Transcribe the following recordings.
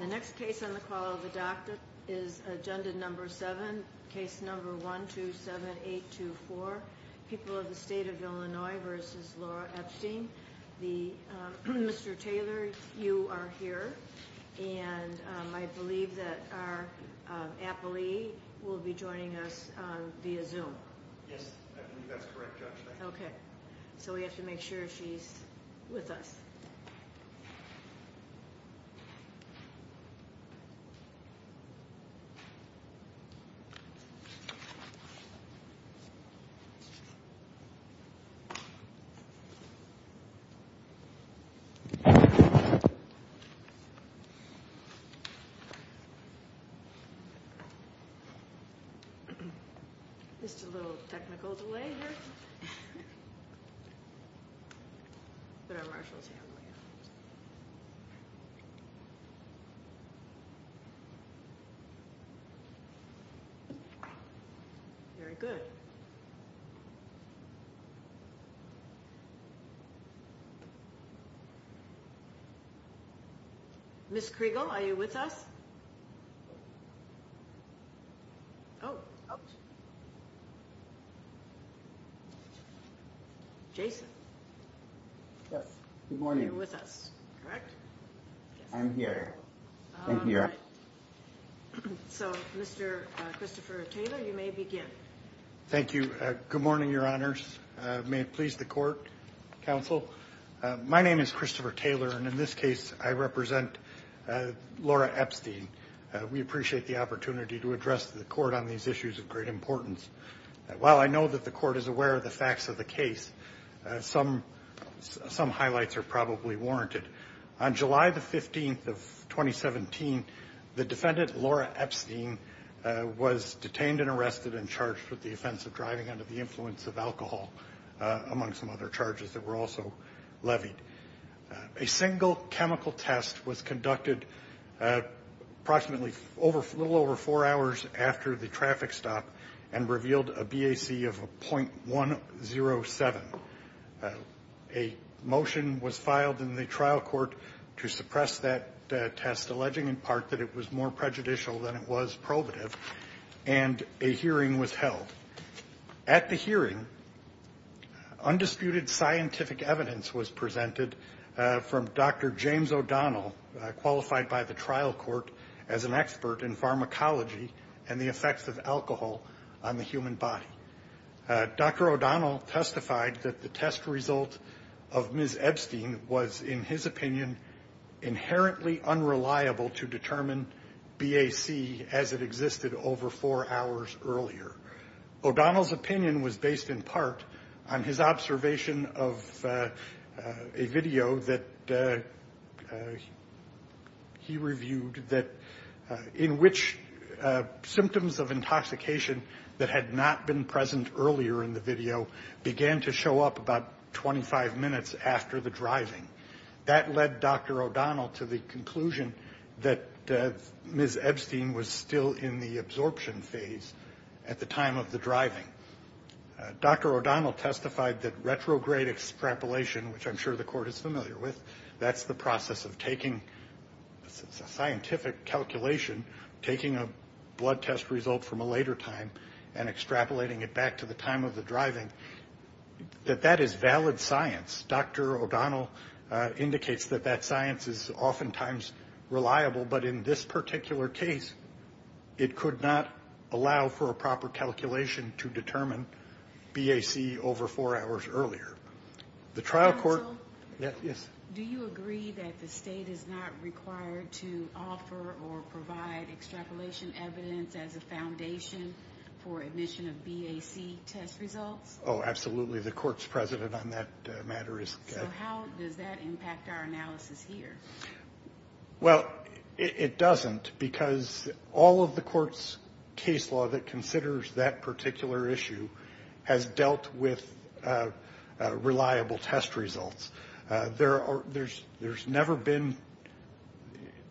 The next case on the call of the doctor is agenda number 7, case number 127824, People of the State of Illinois v. Laura Epstein. Mr. Taylor, you are here, and I believe that our appellee will be joining us via Zoom. Yes, I believe that's correct, Judge. Okay, so we have to make sure she's with us. Okay. Just a little technical delay here. Very good. Ms. Kriegel, are you with us? Oh, oh. Jason. Yes, good morning. Are you with us, correct? I'm here. I'm here. All right. So, Mr. Christopher Taylor, you may begin. Thank you. Good morning, Your Honors. May it please the court, counsel. My name is Christopher Taylor, and in this case, I represent Laura Epstein. We appreciate the opportunity to address the court on these issues of great importance. While I know that the court is aware of the facts of the case, some highlights are probably warranted. On July the 15th of 2017, the defendant, Laura Epstein, was detained and arrested and charged with the offense of driving under the influence of alcohol, among some other charges that were also levied. A single chemical test was conducted approximately a little over four hours after the traffic stop and revealed a BAC of 0.107. A motion was filed in the trial court to suppress that test, alleging in part that it was more prejudicial than it was probative, and a hearing was held. At the hearing, undisputed scientific evidence was presented from Dr. James O'Donnell, qualified by the trial court as an expert in pharmacology and the effects of alcohol on the human body. Dr. O'Donnell testified that the test result of Ms. Epstein was, in his opinion, inherently unreliable to determine BAC as it existed over four hours earlier. O'Donnell's opinion was based in part on his observation of a video that he reviewed, in which symptoms of intoxication that had not been present earlier in the video began to show up about 25 minutes after the driving. That led Dr. O'Donnell to the conclusion that Ms. Epstein was still in the absorption phase at the time of the driving. Dr. O'Donnell testified that retrograde extrapolation, which I'm sure the court is familiar with, that's the process of taking a scientific calculation, taking a blood test result from a later time and extrapolating it back to the time of the driving, that that is valid science. Dr. O'Donnell indicates that that science is oftentimes reliable, but in this particular case it could not allow for a proper calculation to determine BAC over four hours earlier. The trial court... Oh, absolutely. The court's president on that matter is... So how does that impact our analysis here? Well, it doesn't because all of the court's case law that considers that particular issue has dealt with reliable test results. There's never been,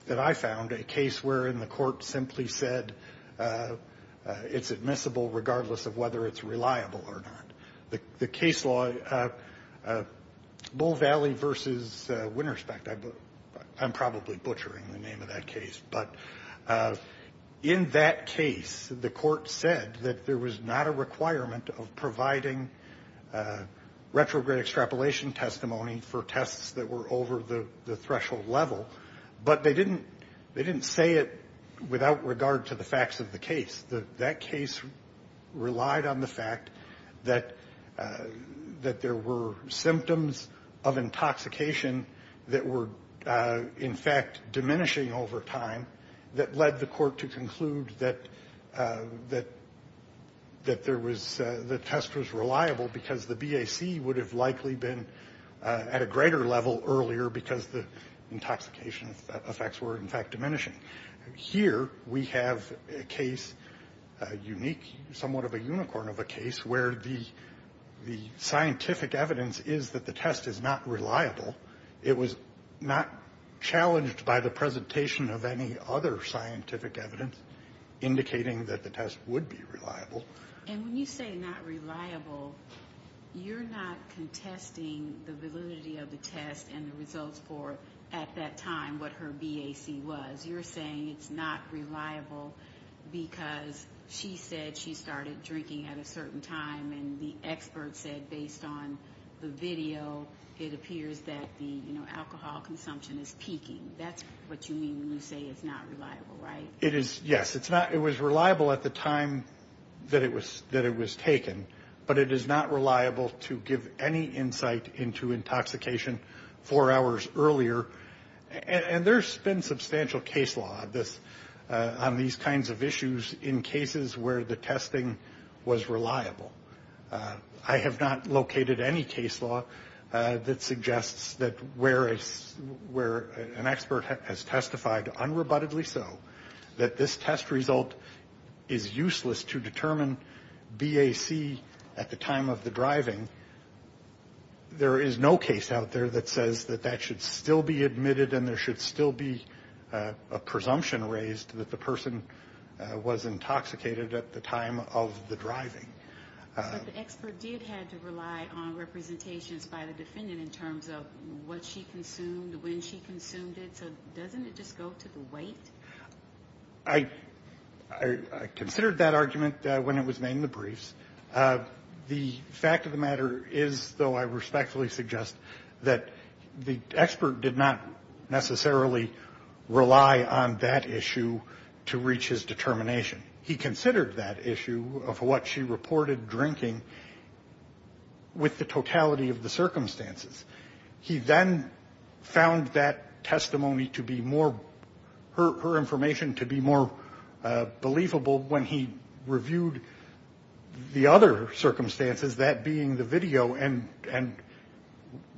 that I found, a case wherein the court simply said it's admissible regardless of whether it's reliable or not. The case law, Bull Valley versus Winterspect, I'm probably butchering the name of that case, but in that case the court said that there was not a requirement of providing retrograde extrapolation testimony for tests that were over the threshold level, but they didn't say it without regard to the facts of the case. That case relied on the fact that there were symptoms of intoxication that were in fact diminishing over time that led the court to conclude that the test was reliable because the BAC would have likely been at a greater level earlier because the intoxication effects were in fact diminishing. Here we have a case, a unique, somewhat of a unicorn of a case, where the scientific evidence is that the test is not reliable. It was not challenged by the presentation of any other scientific evidence indicating that the test would be reliable. And when you say not reliable, you're not contesting the validity of the test and the results for, at that time, what her BAC was. So as you're saying it's not reliable because she said she started drinking at a certain time and the expert said based on the video it appears that the alcohol consumption is peaking. That's what you mean when you say it's not reliable, right? Yes, it was reliable at the time that it was taken, but it is not reliable to give any insight into intoxication four hours earlier. And there's been substantial case law on these kinds of issues in cases where the testing was reliable. I have not located any case law that suggests that where an expert has testified unrebuttedly so that this test result is useless to determine BAC at the time of the driving, there is no case out there that says that that should still be admitted and there should still be a presumption raised that the person was intoxicated at the time of the driving. But the expert did have to rely on representations by the defendant in terms of what she consumed, when she consumed it. So doesn't it just go to the weight? I considered that argument when it was made in the briefs. The fact of the matter is, though I respectfully suggest, that the expert did not necessarily rely on that issue to reach his determination. He considered that issue of what she reported drinking with the totality of the circumstances. He then found that testimony to be more, her information to be more believable when he reviewed the other circumstances, that being the video, and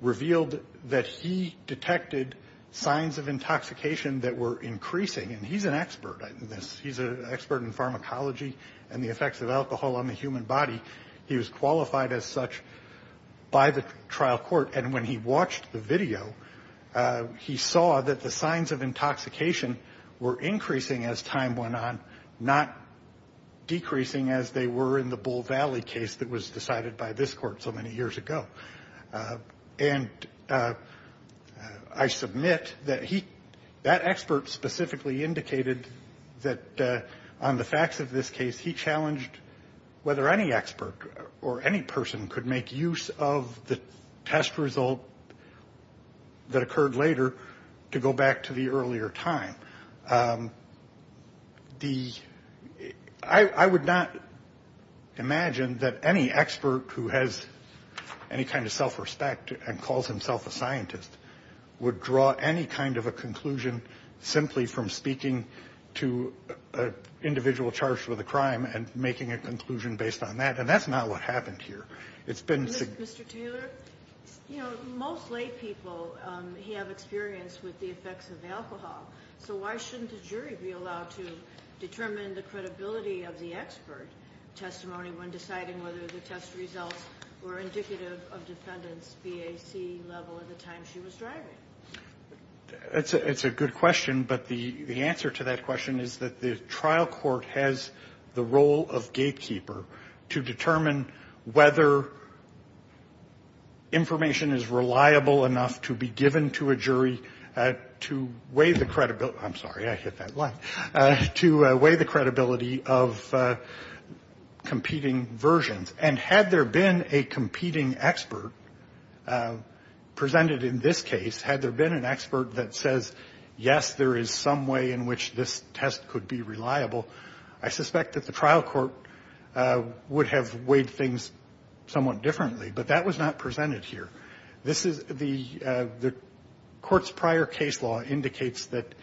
revealed that he detected signs of intoxication that were increasing. And he's an expert in this. He's an expert in pharmacology and the effects of alcohol on the human body. He was qualified as such by the trial court. And when he watched the video, he saw that the signs of intoxication were increasing as time went on, not decreasing as they were in the Bull Valley case that was decided by this court so many years ago. And I submit that he, that expert specifically indicated that on the facts of this case, he challenged whether any expert or any person could make use of the test result that occurred later to go back to the earlier time. The, I would not imagine that any expert who has any kind of self-respect and calls himself a scientist would draw any kind of a conclusion simply from speaking to an individual charged with a crime and making a conclusion based on that. And that's not what happened here. It's been significant. Mr. Taylor, you know, most lay people have experience with the effects of alcohol. So why shouldn't a jury be allowed to determine the credibility of the expert testimony when deciding whether the test results were indicative of defendant's BAC level at the time she was driving? It's a good question. But the answer to that question is that the trial court has the role of gatekeeper to determine whether information is reliable enough to be given to a jury to weigh the credibility. I'm sorry. I hit that line. To weigh the credibility of competing versions. And had there been a competing expert presented in this case, had there been an expert that says, yes, there is some way in which this test could be reliable, I suspect that the trial court would have weighed things somewhat differently. But that was not presented here. The court's prior case law indicates that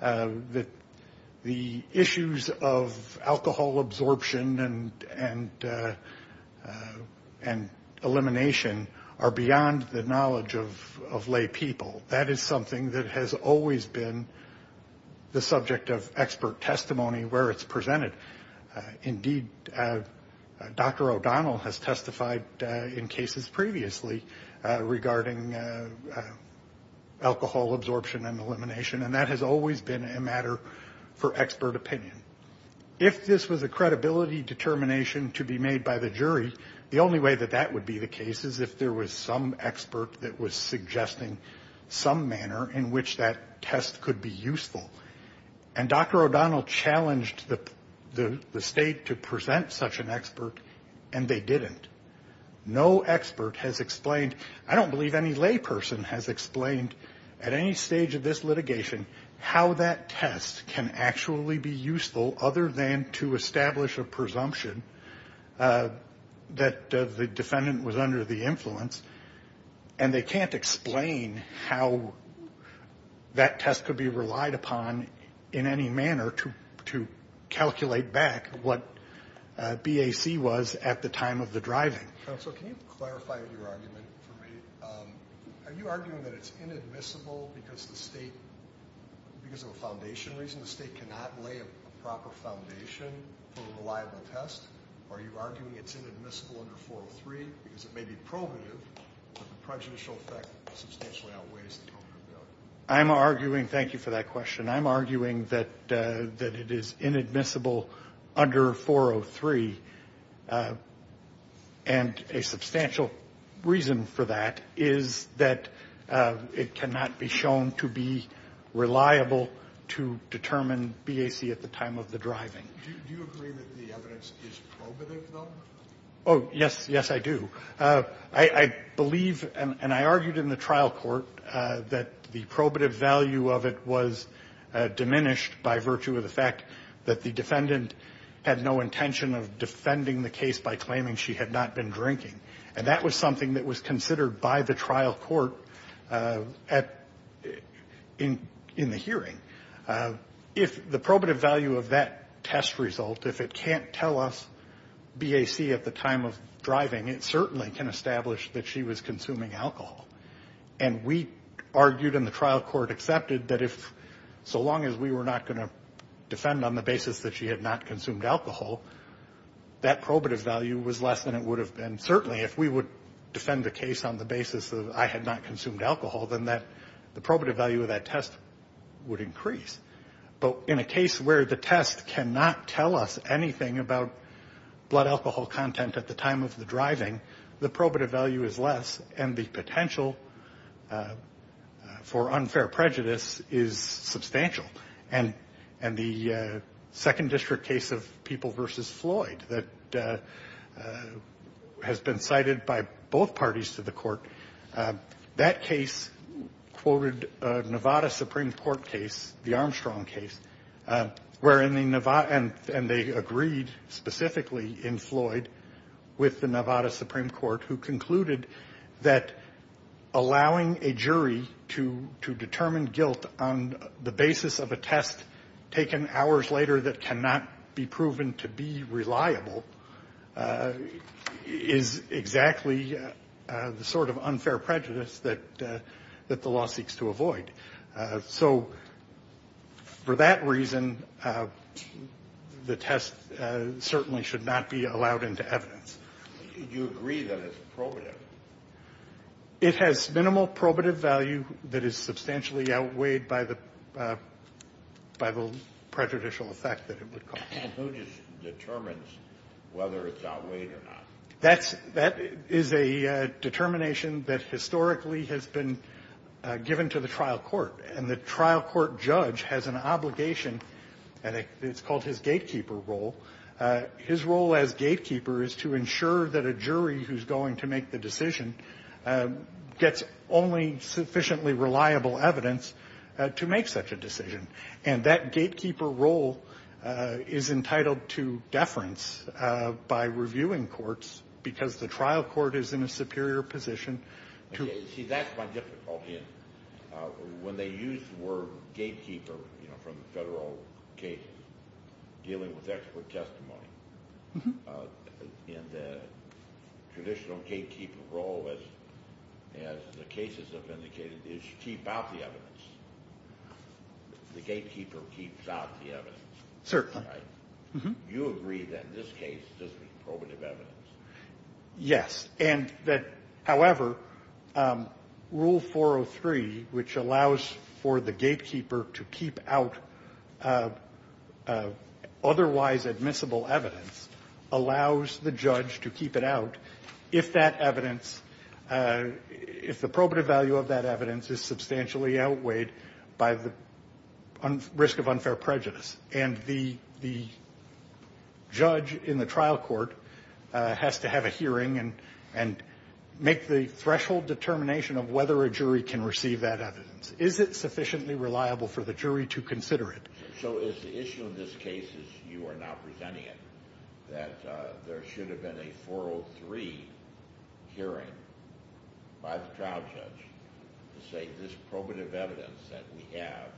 the issues of alcohol absorption and elimination are beyond the knowledge of lay people. That is something that has always been the subject of expert testimony where it's presented. Indeed, Dr. O'Donnell has testified in cases previously regarding alcohol absorption and elimination, and that has always been a matter for expert opinion. If this was a credibility determination to be made by the jury, the only way that that would be the case is if there was some expert that was suggesting some manner in which that test could be useful. And Dr. O'Donnell challenged the state to present such an expert, and they didn't. No expert has explained. I don't believe any lay person has explained at any stage of this litigation how that test can actually be useful other than to establish a presumption that the defendant was under the influence, and they can't explain how that test could be relied upon in any manner to calculate back what BAC was at the time of the driving. Counsel, can you clarify your argument for me? Are you arguing that it's inadmissible because of a foundation reason? The state cannot lay a proper foundation for a reliable test? Are you arguing it's inadmissible under 403 because it may be probative, but the prejudicial effect substantially outweighs the total value? Thank you for that question. I'm arguing that it is inadmissible under 403, and a substantial reason for that is that it cannot be shown to be reliable to determine BAC at the time of the driving. Do you agree that the evidence is probative, though? Oh, yes. Yes, I do. I believe, and I argued in the trial court, that the probative value of it was diminished by virtue of the fact that the defendant had no intention of defending the case by claiming she had not been drinking, and that was something that was considered by the trial court at the hearing. If the probative value of that test result, if it can't tell us BAC at the time of driving, it certainly can establish that she was consuming alcohol. And we argued and the trial court accepted that if, so long as we were not going to defend on the basis that she had not consumed alcohol, that probative value was less than it would have been. Certainly, if we would defend the case on the basis of I had not consumed alcohol, then the probative value of that test would increase. But in a case where the test cannot tell us anything about blood alcohol content at the time of the driving, the probative value is less and the potential for unfair prejudice is substantial. And the second district case of People v. Floyd that has been cited by both parties to the court, that case quoted a Nevada Supreme Court case, the Armstrong case, where in the Nevada, and they agreed specifically in Floyd with the Nevada Supreme Court, who concluded that allowing a jury to determine guilt on the basis of a test taken hours later that cannot be proven to be reliable is exactly the sort of unfair prejudice that the law seeks to avoid. So for that reason, the test certainly should not be allowed into evidence. Do you agree that it's probative? It has minimal probative value that is substantially outweighed by the prejudicial effect that it would cause. And who just determines whether it's outweighed or not? That is a determination that historically has been given to the trial court. And the trial court judge has an obligation, and it's called his gatekeeper role. His role as gatekeeper is to ensure that a jury who's going to make the decision gets only sufficiently reliable evidence to make such a decision. And that gatekeeper role is entitled to deference by reviewing courts because the trial court is in a superior position to. See, that's my difficulty. When they use the word gatekeeper from federal cases, dealing with expert testimony, in the traditional gatekeeper role, as the cases have indicated, is you keep out the evidence. The gatekeeper keeps out the evidence. Certainly. You agree that in this case, this was probative evidence. Yes. And that, however, Rule 403, which allows for the gatekeeper to keep out otherwise admissible evidence, allows the judge to keep it out if that evidence, if the probative value of that evidence is substantially outweighed by the risk of unfair prejudice. And the judge in the trial court has to have a hearing and make the threshold determination of whether a jury can receive that evidence. Is it sufficiently reliable for the jury to consider it? So is the issue in this case, as you are now presenting it, that there should have been a 403 hearing by the trial judge to say, this probative evidence that we have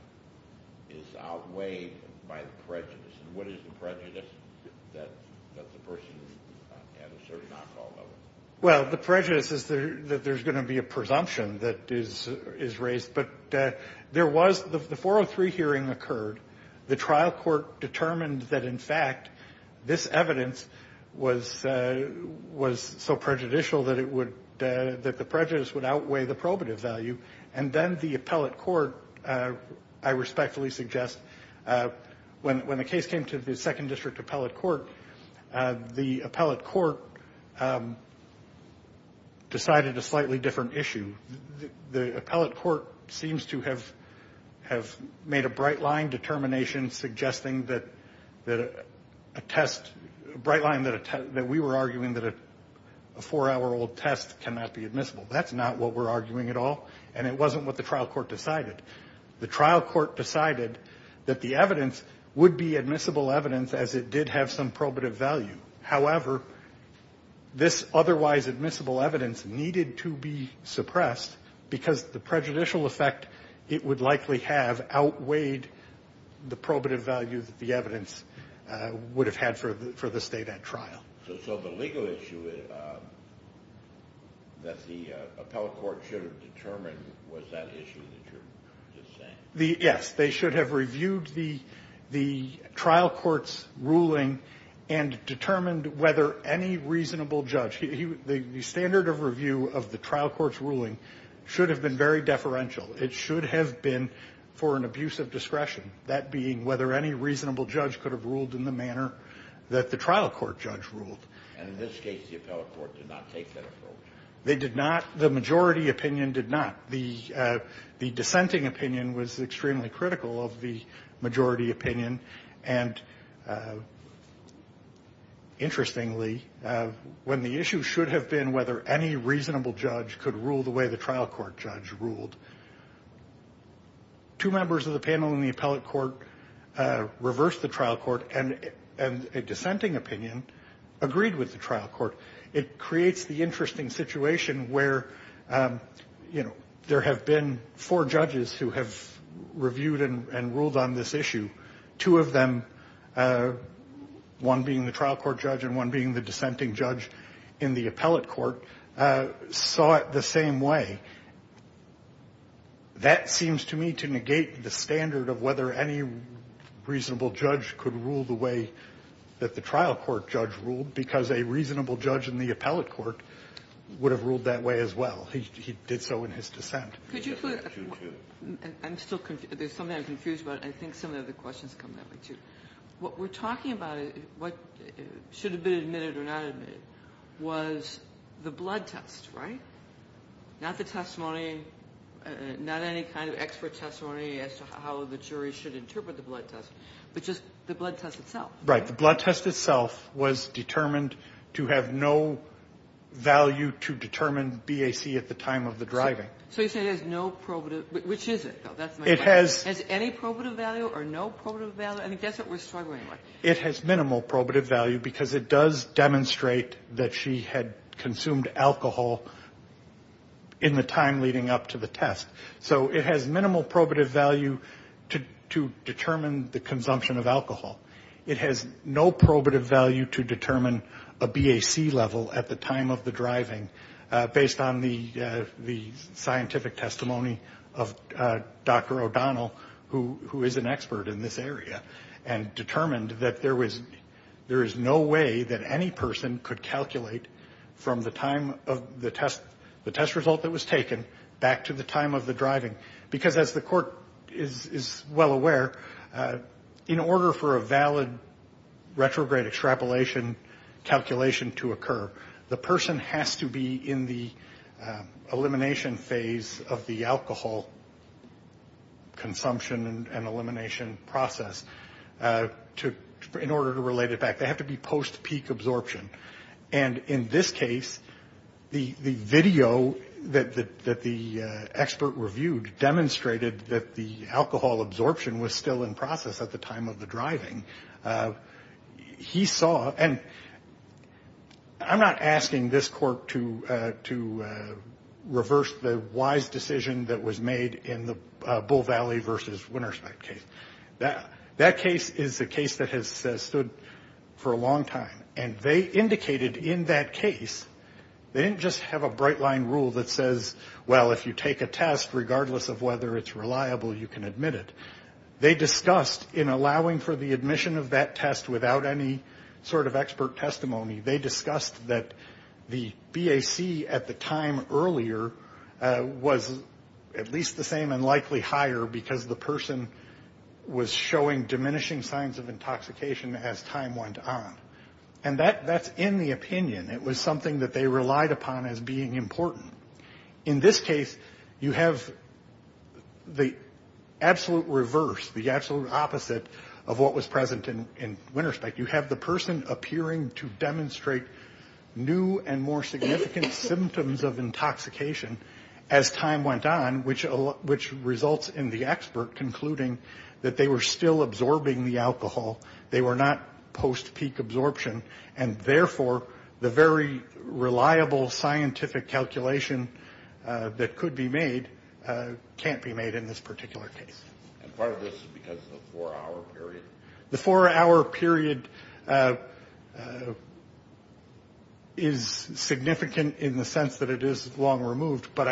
is outweighed by the prejudice? And what is the prejudice that the person had a certain alcohol level? Well, the prejudice is that there's going to be a presumption that is raised. But there was the 403 hearing occurred. The trial court determined that, in fact, this evidence was so prejudicial that the prejudice would outweigh the probative value. And then the appellate court, I respectfully suggest, when the case came to the second district appellate court, the appellate court decided a slightly different issue. The appellate court seems to have made a bright line determination suggesting that a test, a bright line that we were arguing that a four-hour-old test cannot be admissible. That's not what we're arguing at all, and it wasn't what the trial court decided. The trial court decided that the evidence would be admissible evidence as it did have some probative value. However, this otherwise admissible evidence needed to be suppressed because the prejudicial effect it would likely have outweighed the probative value that the evidence would have had for the state at trial. So the legal issue that the appellate court should have determined was that issue that you're just saying? Yes. They should have reviewed the trial court's ruling and determined whether any reasonable judge. The standard of review of the trial court's ruling should have been very deferential. That being whether any reasonable judge could have ruled in the manner that the trial court judge ruled. And in this case, the appellate court did not take that approach. They did not. The majority opinion did not. The dissenting opinion was extremely critical of the majority opinion. And interestingly, when the issue should have been whether any reasonable judge could rule the way the trial court judge ruled, two members of the panel in the appellate court reversed the trial court and a dissenting opinion agreed with the trial court. It creates the interesting situation where, you know, there have been four judges who have reviewed and ruled on this issue. Two of them, one being the trial court judge and one being the dissenting judge in the appellate court, saw it the same way. That seems to me to negate the standard of whether any reasonable judge could rule the way that the trial court judge ruled because a reasonable judge in the appellate court would have ruled that way as well. He did so in his dissent. I'm still confused. There's something I'm confused about. I think some of the other questions come that way, too. What we're talking about, what should have been admitted or not admitted, was the blood test, right? Not the testimony, not any kind of expert testimony as to how the jury should interpret the blood test, but just the blood test itself. Right. The blood test itself was determined to have no value to determine BAC at the time of the driving. So you say it has no probative. Which is it, though? That's my question. It has any probative value or no probative value? I think that's what we're struggling with. It has minimal probative value because it does demonstrate that she had consumed alcohol in the time leading up to the test. So it has minimal probative value to determine the consumption of alcohol. It has no probative value to determine a BAC level at the time of the driving based on the scientific testimony of Dr. O'Donnell, who is an expert in this area, and determined that there is no way that any person could calculate from the time of the test, the test result that was taken, back to the time of the driving. Because as the court is well aware, in order for a valid retrograde extrapolation calculation to occur, the person has to be in the elimination phase of the alcohol consumption and elimination process in order to relate it back. They have to be post-peak absorption. And in this case, the video that the expert reviewed demonstrated that the alcohol absorption was still in process at the time of the driving. He saw, and I'm not asking this court to reverse the wise decision that was made in the Bull Valley versus Winterspec case. That case is a case that has stood for a long time, and they indicated in that case, they didn't just have a bright line rule that says, well, if you take a test, regardless of whether it's reliable, you can admit it. They discussed, in allowing for the admission of that test without any sort of expert testimony, they discussed that the BAC at the time earlier was at least the same and likely higher because the person was showing diminishing signs of intoxication as time went on. And that's in the opinion. It was something that they relied upon as being important. In this case, you have the absolute reverse, the absolute opposite of what was present in Winterspec. You have the person appearing to demonstrate new and more significant symptoms of intoxication as time went on, which results in the expert concluding that they were still absorbing the alcohol. They were not post-peak absorption. And, therefore, the very reliable scientific calculation that could be made can't be made in this particular case. And part of this is because of the four-hour period? The four-hour period is significant in the sense that it is long removed, but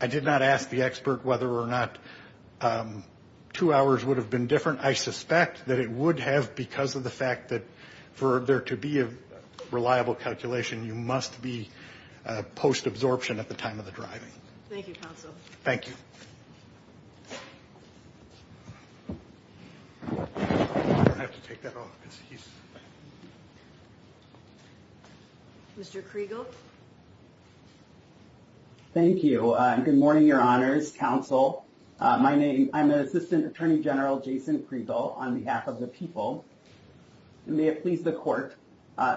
I did not ask the expert whether or not two hours would have been different. I suspect that it would have because of the fact that for there to be a reliable calculation, you must be post-absorption at the time of the driving. Thank you, Counsel. Thank you. Mr. Kriegel? Thank you. Good morning, Your Honors, Counsel. My name, I'm Assistant Attorney General Jason Kriegel on behalf of the people. May it please the court,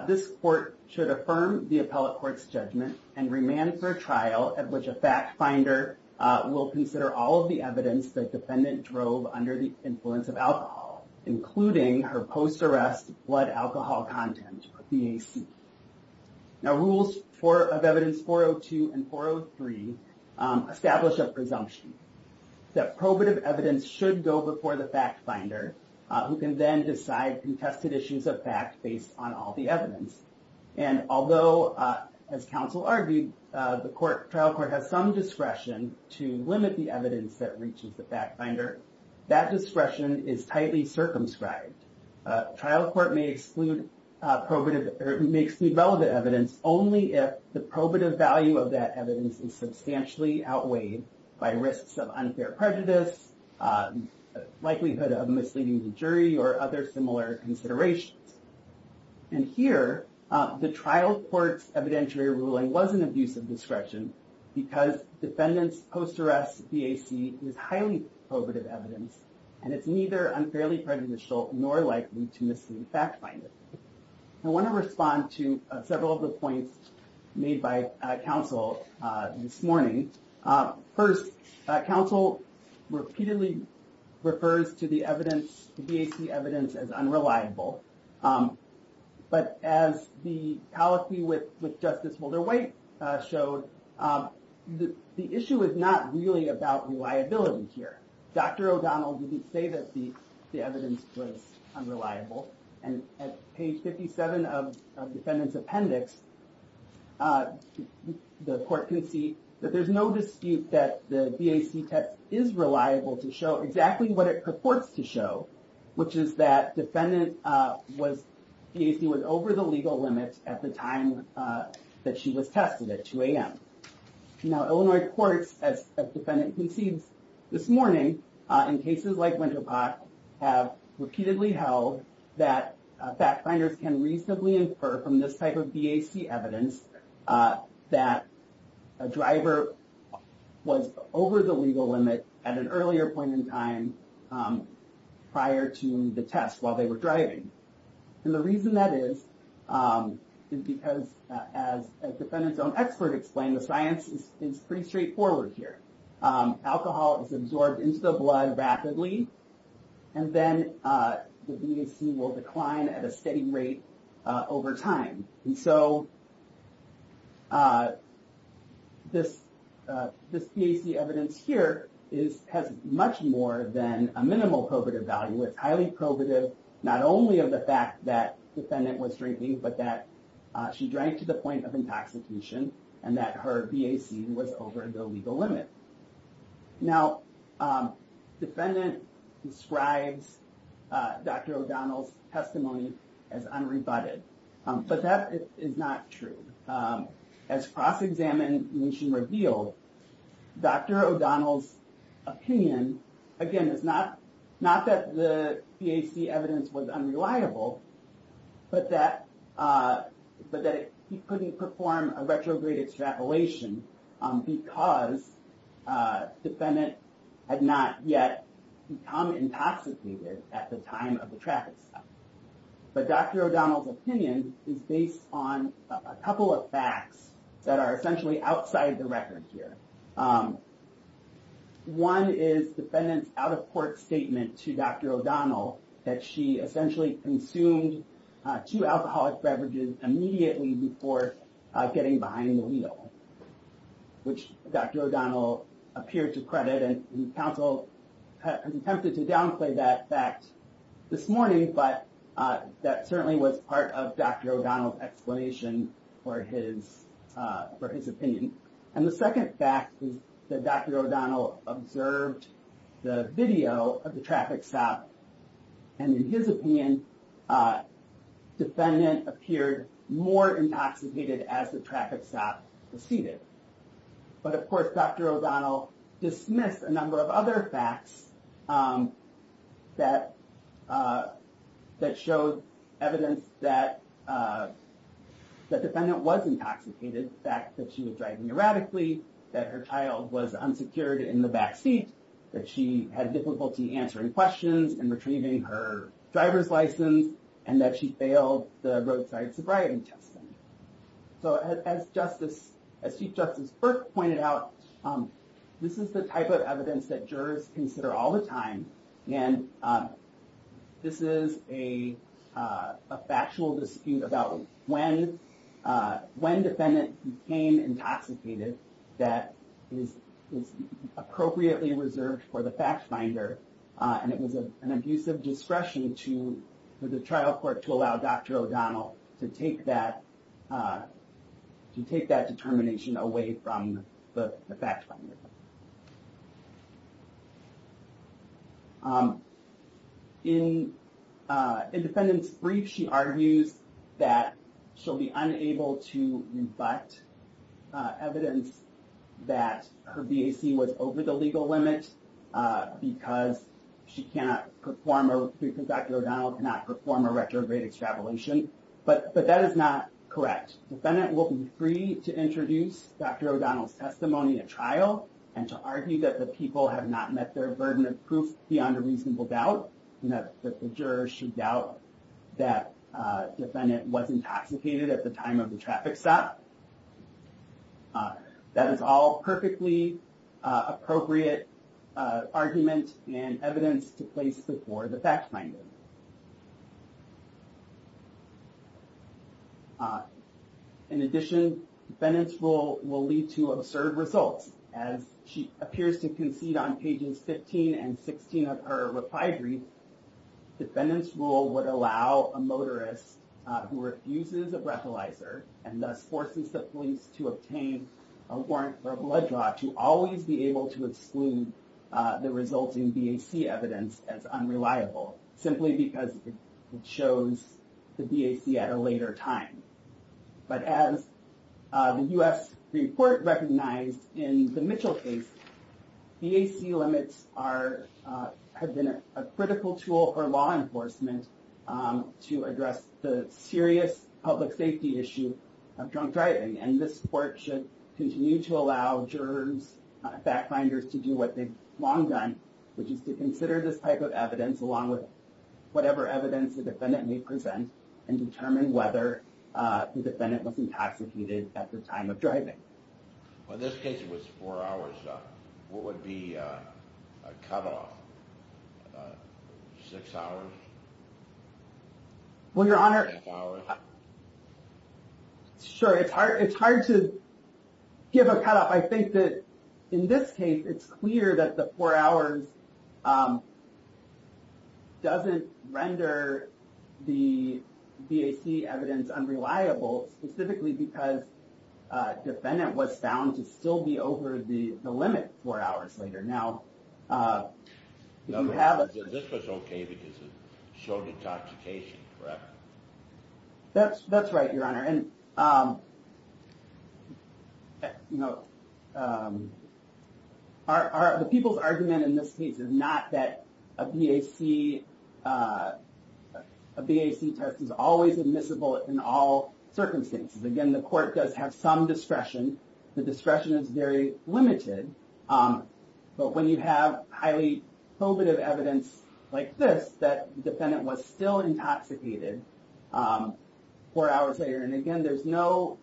this court should affirm the appellate court's judgment and remand for a trial at which a fact finder will consider all of the evidence the defendant drove under the influence of alcohol, including her post-arrest blood alcohol content, or BAC. Now, Rules of Evidence 402 and 403 establish a presumption that probative evidence should go before the fact finder who can then decide contested issues of fact based on all the evidence. And although, as Counsel argued, the trial court has some discretion to limit the evidence that reaches the fact finder, that discretion is tightly circumscribed. Trial court may exclude relevant evidence only if the probative value of that evidence is substantially outweighed by risks of unfair prejudice, likelihood of misleading the jury, or other similar considerations. And here, the trial court's evidentiary ruling was an abuse of discretion because defendant's post-arrest BAC is highly probative evidence, and it's neither unfairly prejudicial nor likely to mislead the fact finder. I want to respond to several of the points made by Counsel this morning. First, Counsel repeatedly refers to the BAC evidence as unreliable. But as the policy with Justice Wilder-White showed, the issue is not really about reliability here. Dr. O'Donnell didn't say that the evidence was unreliable. And at page 57 of defendant's appendix, the court concedes that there's no dispute that the BAC test is reliable to show exactly what it purports to show, which is that defendant's BAC was over the legal limit at the time that she was tested at 2 a.m. Now, Illinois courts, as defendant concedes this morning, in cases like Winter Park, have repeatedly held that fact finders can reasonably infer from this type of BAC evidence that a driver was over the legal limit at an earlier point in time prior to the test while they were driving. And the reason that is, is because as defendant's own expert explained, the science is pretty straightforward here. Alcohol is absorbed into the blood rapidly, and then the BAC will decline at a steady rate over time. And so this BAC evidence here has much more than a minimal probative value. It's highly probative not only of the fact that defendant was drinking, but that she drank to the point of intoxication and that her BAC was over the legal limit. Now, defendant describes Dr. O'Donnell's testimony as unrebutted, but that is not true. As cross-examination revealed, Dr. O'Donnell's opinion, again, is not that the BAC evidence was unreliable, but that he couldn't perform a retrograde extrapolation because defendant had not yet become intoxicated at the time of the traffic stop. But Dr. O'Donnell's opinion is based on a couple of facts that are essentially outside the record here. One is defendant's out-of-court statement to Dr. O'Donnell that she essentially consumed two alcoholic beverages immediately before getting behind the wheel, which Dr. O'Donnell appeared to credit. And counsel has attempted to downplay that fact this morning, but that certainly was part of Dr. O'Donnell's explanation for his opinion. And the second fact is that Dr. O'Donnell observed the video of the traffic stop. And in his opinion, defendant appeared more intoxicated as the traffic stop proceeded. But of course, Dr. O'Donnell dismissed a number of other facts that showed evidence that the defendant was intoxicated. The fact that she was driving erratically, that her child was unsecured in the backseat, that she had difficulty answering questions and retrieving her driver's license, and that she failed the roadside sobriety test. So as Chief Justice Burke pointed out, this is the type of evidence that jurors consider all the time. And this is a factual dispute about when defendant became intoxicated that is appropriately reserved for the fact finder. And it was an abuse of discretion to the trial court to allow Dr. O'Donnell to take that determination away from the fact finder. In the defendant's brief, she argues that she'll be unable to rebut evidence that her BAC was over the legal limit because Dr. O'Donnell cannot perform a retrograde extrapolation. But that is not correct. Defendant will be free to introduce Dr. O'Donnell's testimony at trial and to argue that the people have not met their burden of proof beyond a reasonable doubt, and that the jurors should doubt that defendant was intoxicated at the time of the traffic stop. That is all perfectly appropriate argument and evidence to place before the fact finder. In addition, defendant's rule will lead to absurd results. As she appears to concede on pages 15 and 16 of her reply brief, defendant's rule would allow a motorist who refuses a breathalyzer and thus forces the police to obtain a warrant for a blood draw to always be able to exclude the resulting BAC evidence as unreliable, simply because it shows the BAC at a later time. But as the U.S. report recognized in the Mitchell case, BAC limits have been a critical tool for law enforcement to address the serious public safety issue of drunk driving. And this court should continue to allow jurors, fact finders, to do what they've long done, which is to consider this type of evidence along with whatever evidence the defendant may present and determine whether the defendant was intoxicated at the time of driving. In this case, it was four hours. What would be a cutoff? Six hours? Well, Your Honor, sure. It's hard to give a cutoff. I think that in this case, it's clear that the four hours doesn't render the BAC evidence unreliable, specifically because defendant was found to still be over the limit four hours later. Now, if you have a... This was okay because it showed intoxication, correct? That's right, Your Honor. The people's argument in this case is not that a BAC test is always admissible in all circumstances. Again, the court does have some discretion. The discretion is very limited. But when you have highly probative evidence like this, that defendant was still intoxicated four hours later. And again, there's no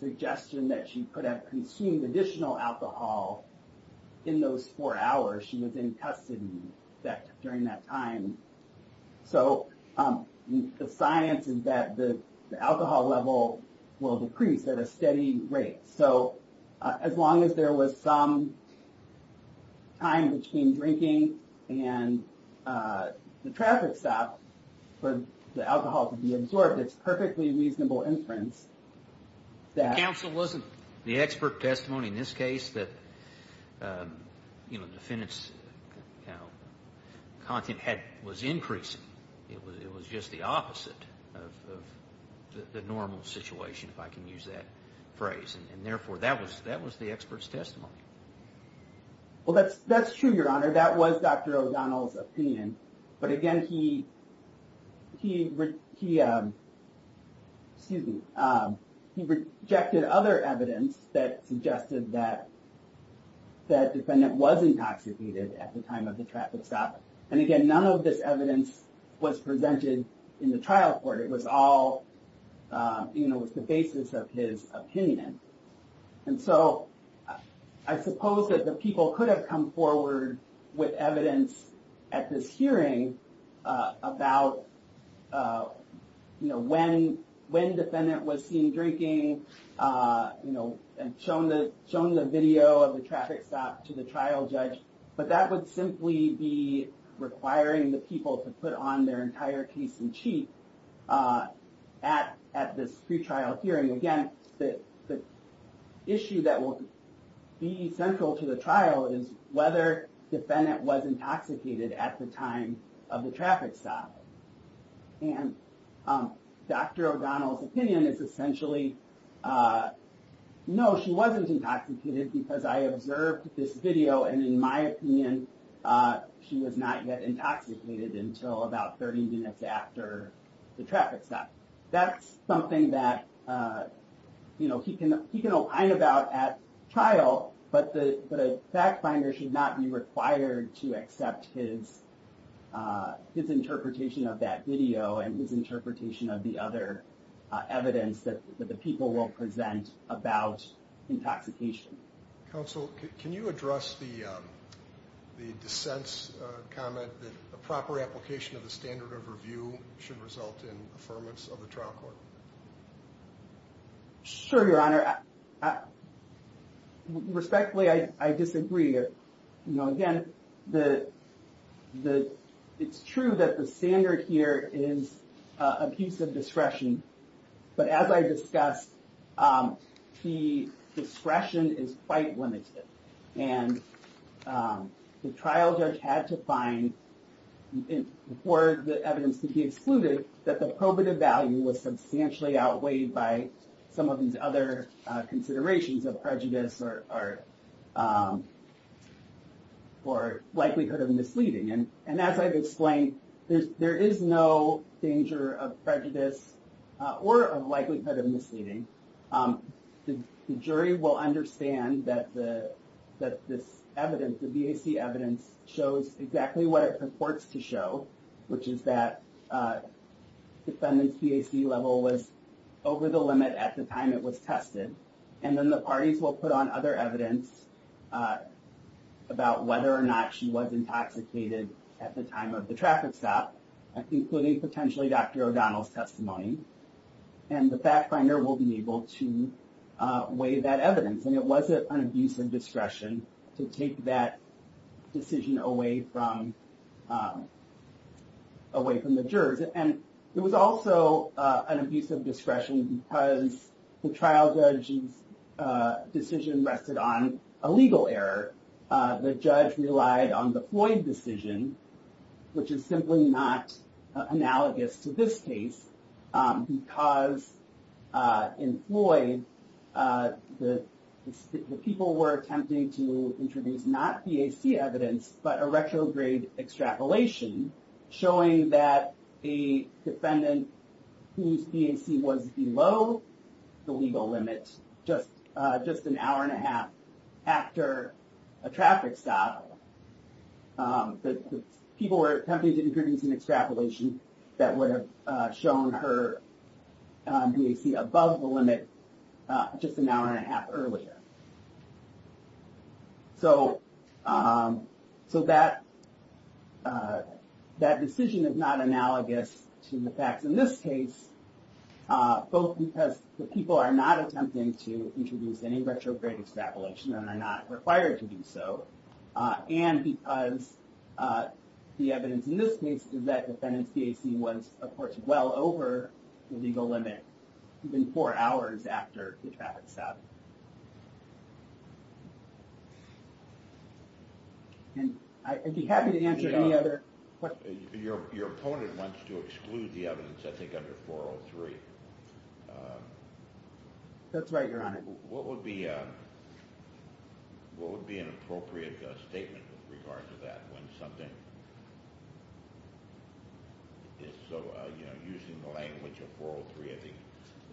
suggestion that she could have consumed additional alcohol in those four hours. She was in custody during that time. So the science is that the alcohol level will decrease at a steady rate. So as long as there was some time between drinking and the traffic stop for the alcohol to be absorbed, it's perfectly reasonable inference that... The counsel wasn't the expert testimony in this case that the defendant's content was increasing. It was just the opposite of the normal situation, if I can use that phrase. And therefore, that was the expert's testimony. Well, that's true, Your Honor. That was Dr. O'Donnell's opinion. But again, he rejected other evidence that suggested that defendant was intoxicated at the time of the traffic stop. And again, none of this evidence was presented in the trial court. It was all, you know, it was the basis of his opinion. And so I suppose that the people could have come forward with evidence at this hearing about, you know, when defendant was seen drinking, you know, and shown the video of the traffic stop to the trial judge. But that would simply be requiring the people to put on their entire case in cheek at this pretrial hearing. Again, the issue that will be central to the trial is whether defendant was intoxicated at the time of the traffic stop. And Dr. O'Donnell's opinion is essentially, no, she wasn't intoxicated because I observed this video. And in my opinion, she was not yet intoxicated until about 30 minutes after the traffic stop. That's something that, you know, he can opine about at trial. But the fact finder should not be required to accept his interpretation of that video and his interpretation of the other evidence that the people will present about intoxication. Counsel, can you address the dissent's comment that a proper application of the standard of review should result in affirmance of the trial court? Sure, Your Honor. Respectfully, I disagree. You know, again, it's true that the standard here is a piece of discretion. But as I discussed, the discretion is quite limited. And the trial judge had to find, for the evidence to be excluded, that the probative value was substantially outweighed by some of these other considerations of prejudice or likelihood of misleading. And as I've explained, there is no danger of prejudice or likelihood of misleading. The jury will understand that this evidence, the BAC evidence, shows exactly what it purports to show, which is that defendant's BAC level was over the limit at the time it was tested. And then the parties will put on other evidence about whether or not she was intoxicated at the time of the traffic stop, including potentially Dr. O'Donnell's testimony. And the fact finder will be able to weigh that evidence. And it was an abuse of discretion to take that decision away from the jurors. And it was also an abuse of discretion because the trial judge's decision rested on a legal error. The judge relied on the Floyd decision, which is simply not analogous to this case, because in Floyd, the people were attempting to introduce not BAC evidence, but a retrograde extrapolation, showing that a defendant whose BAC was below the legal limit just an hour and a half after a traffic stop, the people were attempting to introduce an extrapolation that would have shown her BAC above the limit just an hour and a half earlier. So that decision is not analogous to the facts in this case, both because the people are not attempting to introduce any retrograde extrapolation and are not required to do so, and because the evidence in this case is that the defendant's BAC was, of course, well over the legal limit even four hours after the traffic stop. And I'd be happy to answer any other questions. Your opponent wants to exclude the evidence, I think, under 403. That's right, Your Honor. What would be an appropriate statement with regard to that? Using the language of 403, I think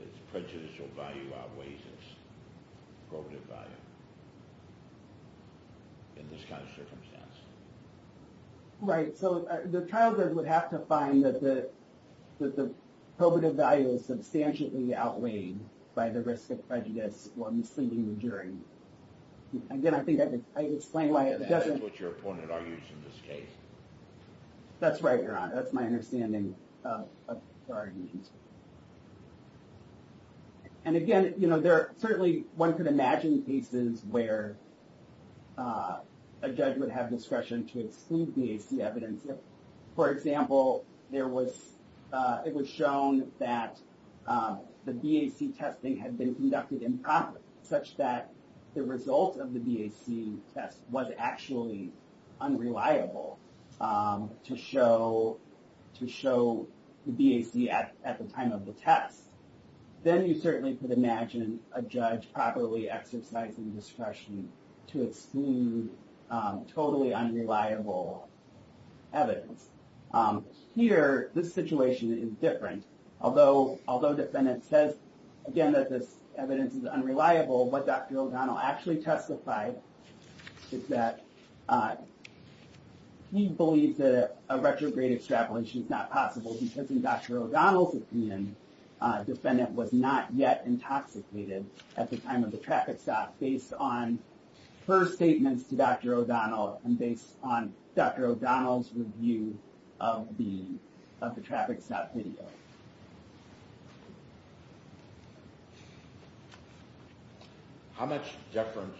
its prejudicial value outweighs its probative value in this kind of circumstance. Right. So the trial judge would have to find that the probative value is substantially outweighed by the risk of prejudice or misleading the jury. Again, I think I explained why it doesn't... That's what your opponent argues in this case. That's right, Your Honor. That's my understanding of the argument. And again, you know, there are certainly one could imagine cases where a judge would have discretion to exclude BAC evidence. For example, it was shown that the BAC testing had been conducted improperly, such that the result of the BAC test was actually unreliable to show the BAC at the time of the test. Then you certainly could imagine a judge properly exercising discretion to exclude totally unreliable evidence. Here, this situation is different. Although the defendant says, again, that this evidence is unreliable, what Dr. O'Donnell actually testified is that he believes that a retrograde extrapolation is not possible because in Dr. O'Donnell's opinion, the defendant was not yet intoxicated at the time of the traffic stop based on her statements to Dr. O'Donnell and based on Dr. O'Donnell's review of the traffic stop video. How much deference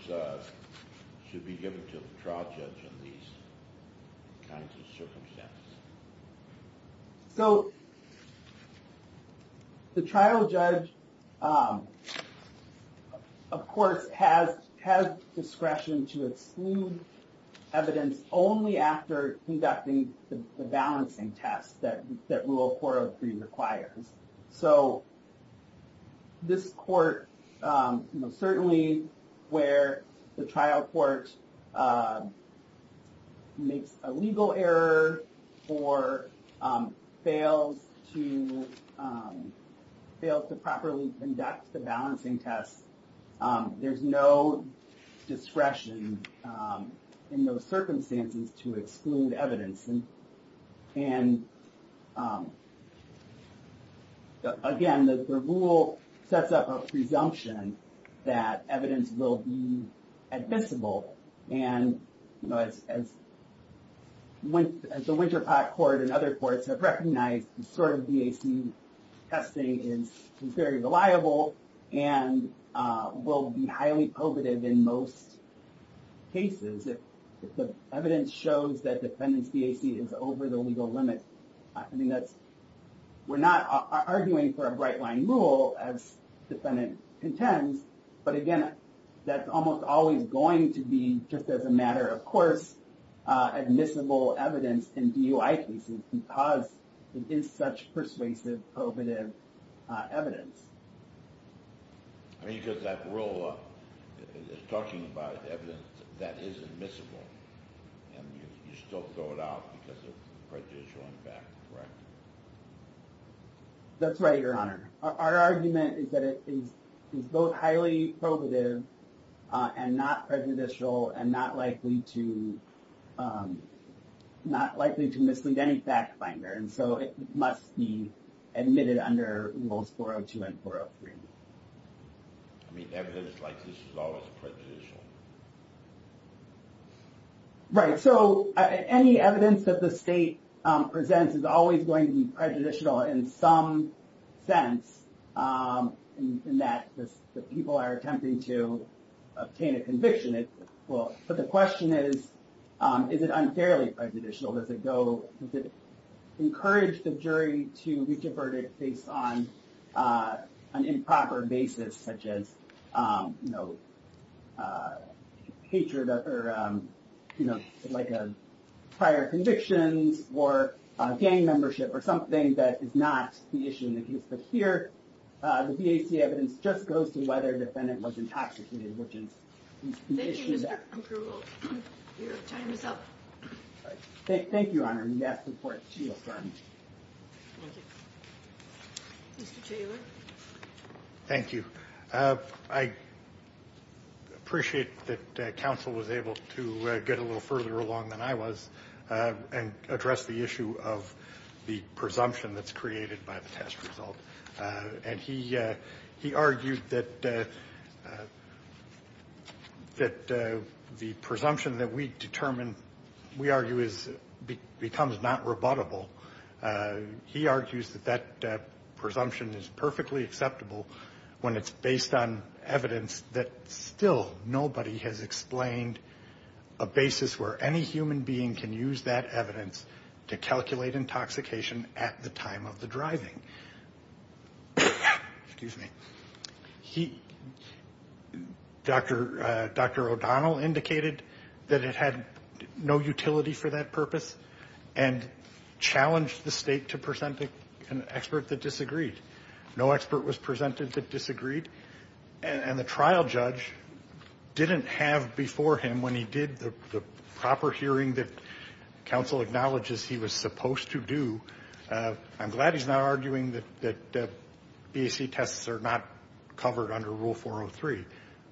should be given to the trial judge in these kinds of circumstances? So the trial judge, of course, has discretion to exclude evidence only after conducting the balancing test that rule 403 requires. So this court, certainly where the trial court makes a legal error or fails to properly conduct the balancing test, there's no discretion in those circumstances to exclude evidence. And again, the rule sets up a presumption that evidence will be admissible. And as the Winterpott Court and other courts have recognized, this sort of DAC testing is very reliable and will be highly probative in most cases if the evidence shows that the defendant's DAC is over the legal limit. We're not arguing for a bright-line rule as the defendant intends, but again, that's almost always going to be just as a matter of course admissible evidence in DUI cases because it is such persuasive, probative evidence. I mean, because that rule is talking about evidence that is admissible and you still throw it out because of prejudicial impact, correct? That's right, Your Honor. Our argument is that it is both highly probative and not prejudicial and not likely to mislead any fact finder. And so it must be admitted under rules 402 and 403. I mean, evidence like this is always prejudicial. Right. So any evidence that the state presents is always going to be prejudicial in some sense, in that the people are attempting to obtain a conviction. Well, but the question is, is it unfairly prejudicial? Does it encourage the jury to reach a verdict based on an improper basis such as, you know, hatred or, you know, like prior convictions or gang membership or something that is not the issue in the case. But here, the BAC evidence just goes to whether the defendant was intoxicated, which is the issue there. Thank you, Mr. Krugel. Your time is up. Thank you, Your Honor. Yes, of course. Thank you. Mr. Taylor. Thank you. I appreciate that counsel was able to get a little further along than I was and address the issue of the presumption that's created by the test result. And he he argued that that the presumption that we determine, we argue, is becomes not rebuttable. He argues that that presumption is perfectly acceptable when it's based on evidence that still nobody has explained a basis where any human being can use that evidence to calculate intoxication at the time of the driving. Excuse me. He Dr. Dr. O'Donnell indicated that it had no utility for that purpose and challenged the state to present an expert that disagreed. No expert was presented that disagreed. And the trial judge didn't have before him when he did the proper hearing that counsel acknowledges he was supposed to do. I'm glad he's not arguing that the B.A.C. tests are not covered under Rule 403.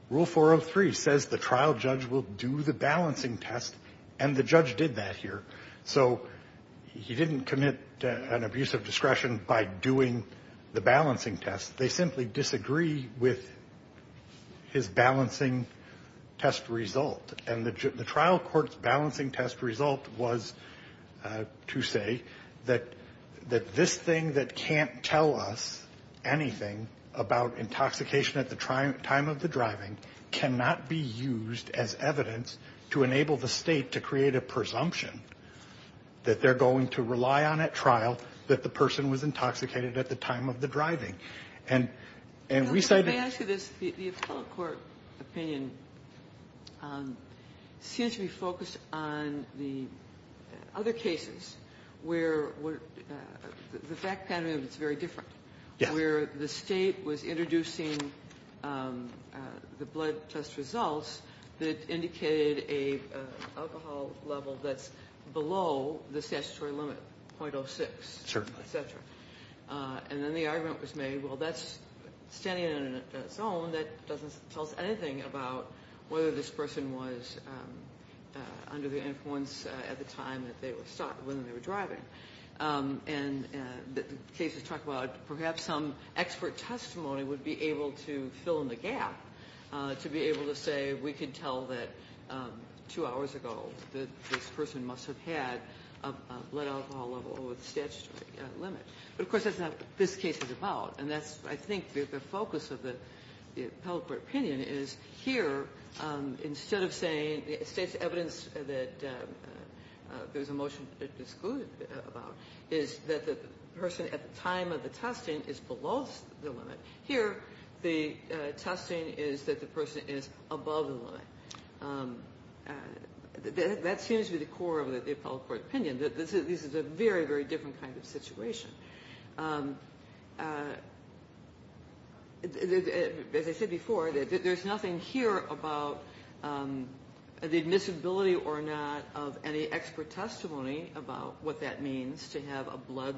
Rule 403 says the trial judge will do the balancing test and the judge did that here. So he didn't commit an abuse of discretion by doing the balancing test. They simply disagree with his balancing test result. And the trial court's balancing test result was to say that that this thing that can't tell us anything about intoxication at the time of the driving cannot be used as evidence to enable the state to create a presumption that they're going to rely on at trial that the person was intoxicated at the time of the driving. And and we say this court opinion seems to be focused on the other cases where the fact that it's very different where the state was introducing the blood test results that indicated a level that's below the statutory limit. Certainly. And then the argument was made, well that's standing in a zone that doesn't tell us anything about whether this person was under the influence at the time that they were driving. And the cases talk about perhaps some expert testimony would be able to fill in the gap to be able to say we could tell that two hours ago that this person must have had a blood alcohol level over the statutory limit. But of course that's not what this case is about. And that's I think the focus of the appellate court opinion is here instead of saying state's evidence that there's a motion excluded about is that the person at the time of the testing is below the limit. Here the testing is that the person is above the limit. That seems to be the core of the appellate court opinion. This is a very, very different kind of situation. As I said before, there's nothing here about the admissibility or not of any expert testimony about what that means to have a blood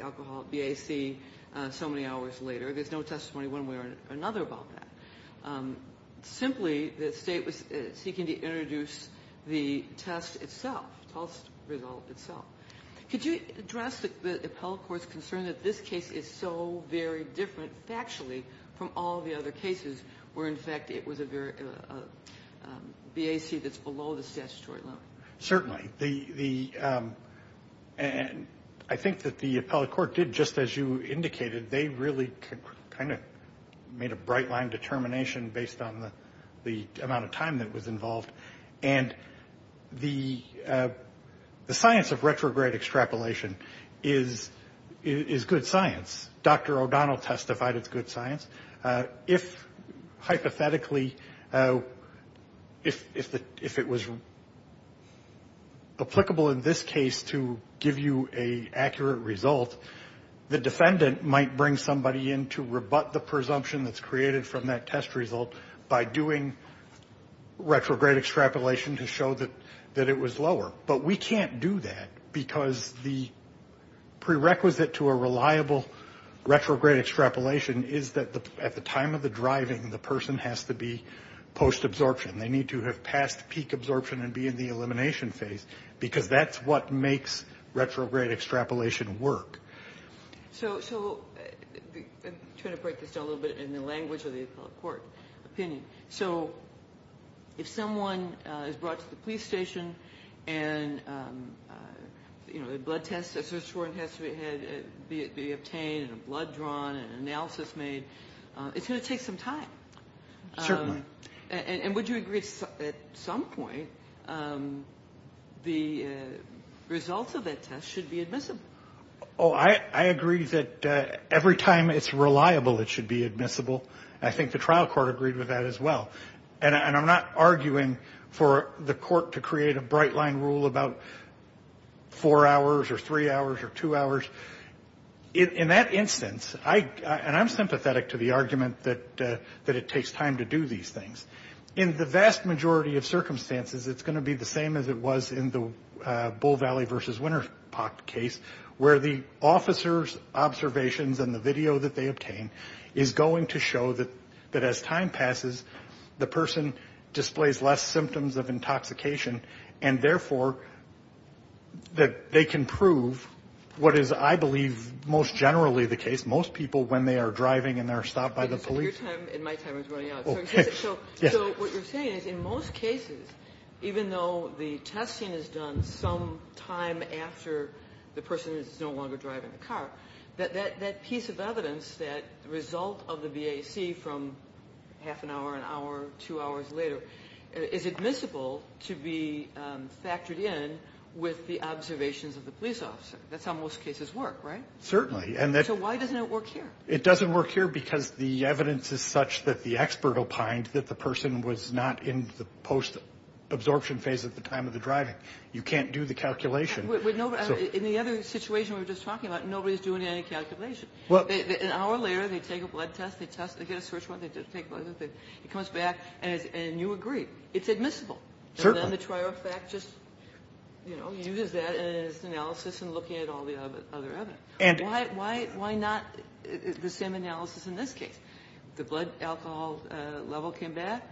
alcohol BAC so many hours later. There's no testimony one way or another about that. Simply the State was seeking to introduce the test itself, test result itself. Could you address the appellate court's concern that this case is so very different factually from all the other cases where in fact it was a BAC that's below the statutory limit? Certainly. I think that the appellate court did just as you indicated. They really kind of made a bright line determination based on the amount of time that was involved. And the science of retrograde extrapolation is good science. Dr. O'Donnell testified it's good science. If hypothetically, if it was applicable in this case to give you an accurate result, the defendant might bring somebody in to rebut the presumption that's created from that test result by doing retrograde extrapolation to show that it was lower. But we can't do that because the prerequisite to a reliable retrograde extrapolation is that at the time of the driving, the person has to be post-absorption. They need to have passed peak absorption and be in the elimination phase because that's what makes retrograde extrapolation work. So I'm trying to break this down a little bit in the language of the appellate court opinion. So if someone is brought to the police station and a blood test has to be obtained and a blood drawn and an analysis made, it's going to take some time. Certainly. And would you agree at some point the results of that test should be admissible? Oh, I agree that every time it's reliable, it should be admissible. I think the trial court agreed with that as well. And I'm not arguing for the court to create a bright line rule about four hours or three hours or two hours. In that instance, and I'm sympathetic to the argument that it takes time to do these things. In the vast majority of circumstances, it's going to be the same as it was in the Bull Valley versus Winter Park case, where the officer's observations and the video that they obtain is going to show that as time passes, the person displays less symptoms of intoxication and, therefore, that they can prove what is, I believe, most generally the case. Most people, when they are driving and they're stopped by the police. Your time and my time is running out. So what you're saying is in most cases, even though the testing is done some time after the person is no longer driving the car, that piece of evidence, that result of the BAC from half an hour, an hour, two hours later, is admissible to be factored in with the observations of the police officer. That's how most cases work, right? Certainly. So why doesn't it work here? It doesn't work here because the evidence is such that the expert opined that the person was not in the post-absorption phase at the time of the driving. You can't do the calculation. In the other situation we were just talking about, nobody's doing any calculation. An hour later, they take a blood test, they get a search warrant, they take a blood test, it comes back, and you agree. It's admissible. Certainly. And then the trial fact just, you know, uses that as analysis in looking at all the other evidence. Why not the same analysis in this case? The blood alcohol level came back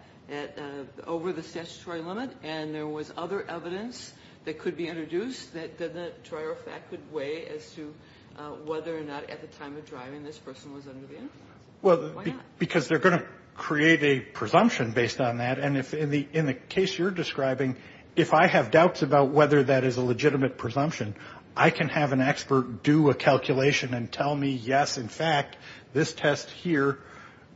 over the statutory limit and there was other evidence that could be introduced that the trial fact could weigh as to whether or not at the time of driving this person was under the influence. Why not? Because they're going to create a presumption based on that. And in the case you're describing, if I have doubts about whether that is a legitimate presumption, I can have an expert do a calculation and tell me, yes, in fact, this test here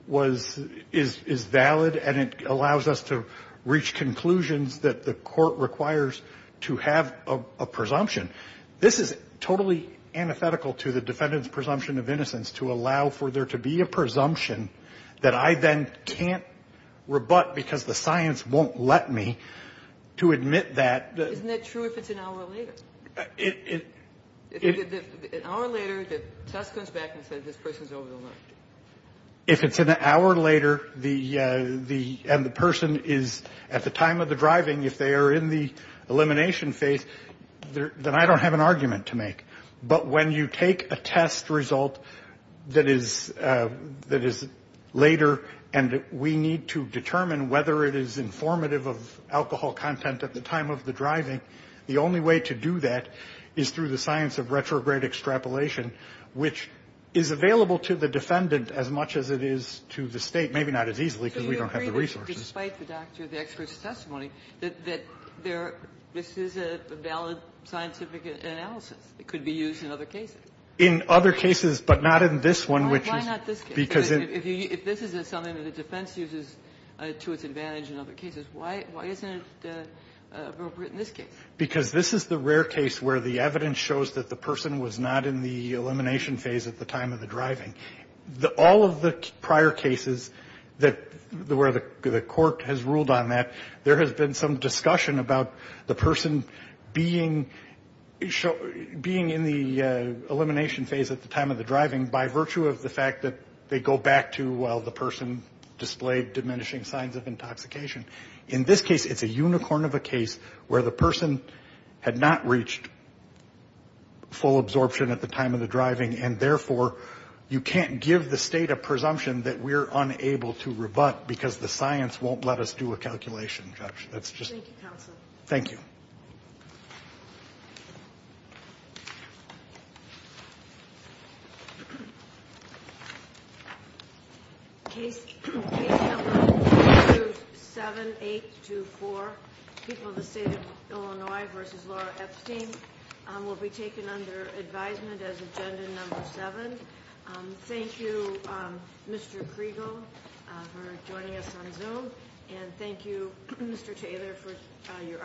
was valid and it allows us to reach conclusions that the court requires to have a presumption. This is totally antithetical to the defendant's presumption of innocence to allow for there to be a presumption that I then can't rebut because the science won't let me to admit that. Isn't that true if it's an hour later? If it's an hour later, the test comes back and says this person is over the limit. If it's an hour later and the person is at the time of the driving, if they are in the elimination phase, then I don't have an argument to make. But when you take a test result that is later and we need to determine whether it is informative of alcohol content at the time of the driving, the only way to do that is through the science of retrograde extrapolation, which is available to the defendant as much as it is to the State, maybe not as easily because we don't have the resources. Ginsburg. So you agree that despite the doctor, the expert's testimony, that there is a valid scientific analysis that could be used in other cases? In other cases, but not in this one, which is why not this case? Because if you if this is something the defense uses to its advantage in other cases, why isn't it appropriate in this case? Because this is the rare case where the evidence shows that the person was not in the elimination phase at the time of the driving. All of the prior cases where the court has ruled on that, there has been some discussion about the person being in the elimination phase at the time of the driving by virtue of the fact that they go back to, well, the person displayed diminishing signs of intoxication. In this case, it's a unicorn of a case where the person had not reached full absorption at the time of the driving and, therefore, you can't give the State a presumption that we're unable to rebut because the science won't let us do a calculation, Judge. Thank you, Counsel. Thank you. Thank you. Case number 427824, People of the State of Illinois v. Laura Epstein, will be taken under advisement as Agenda Number 7. Thank you, Mr. Kriegel, for joining us on Zoom, and thank you, Mr. Taylor, for your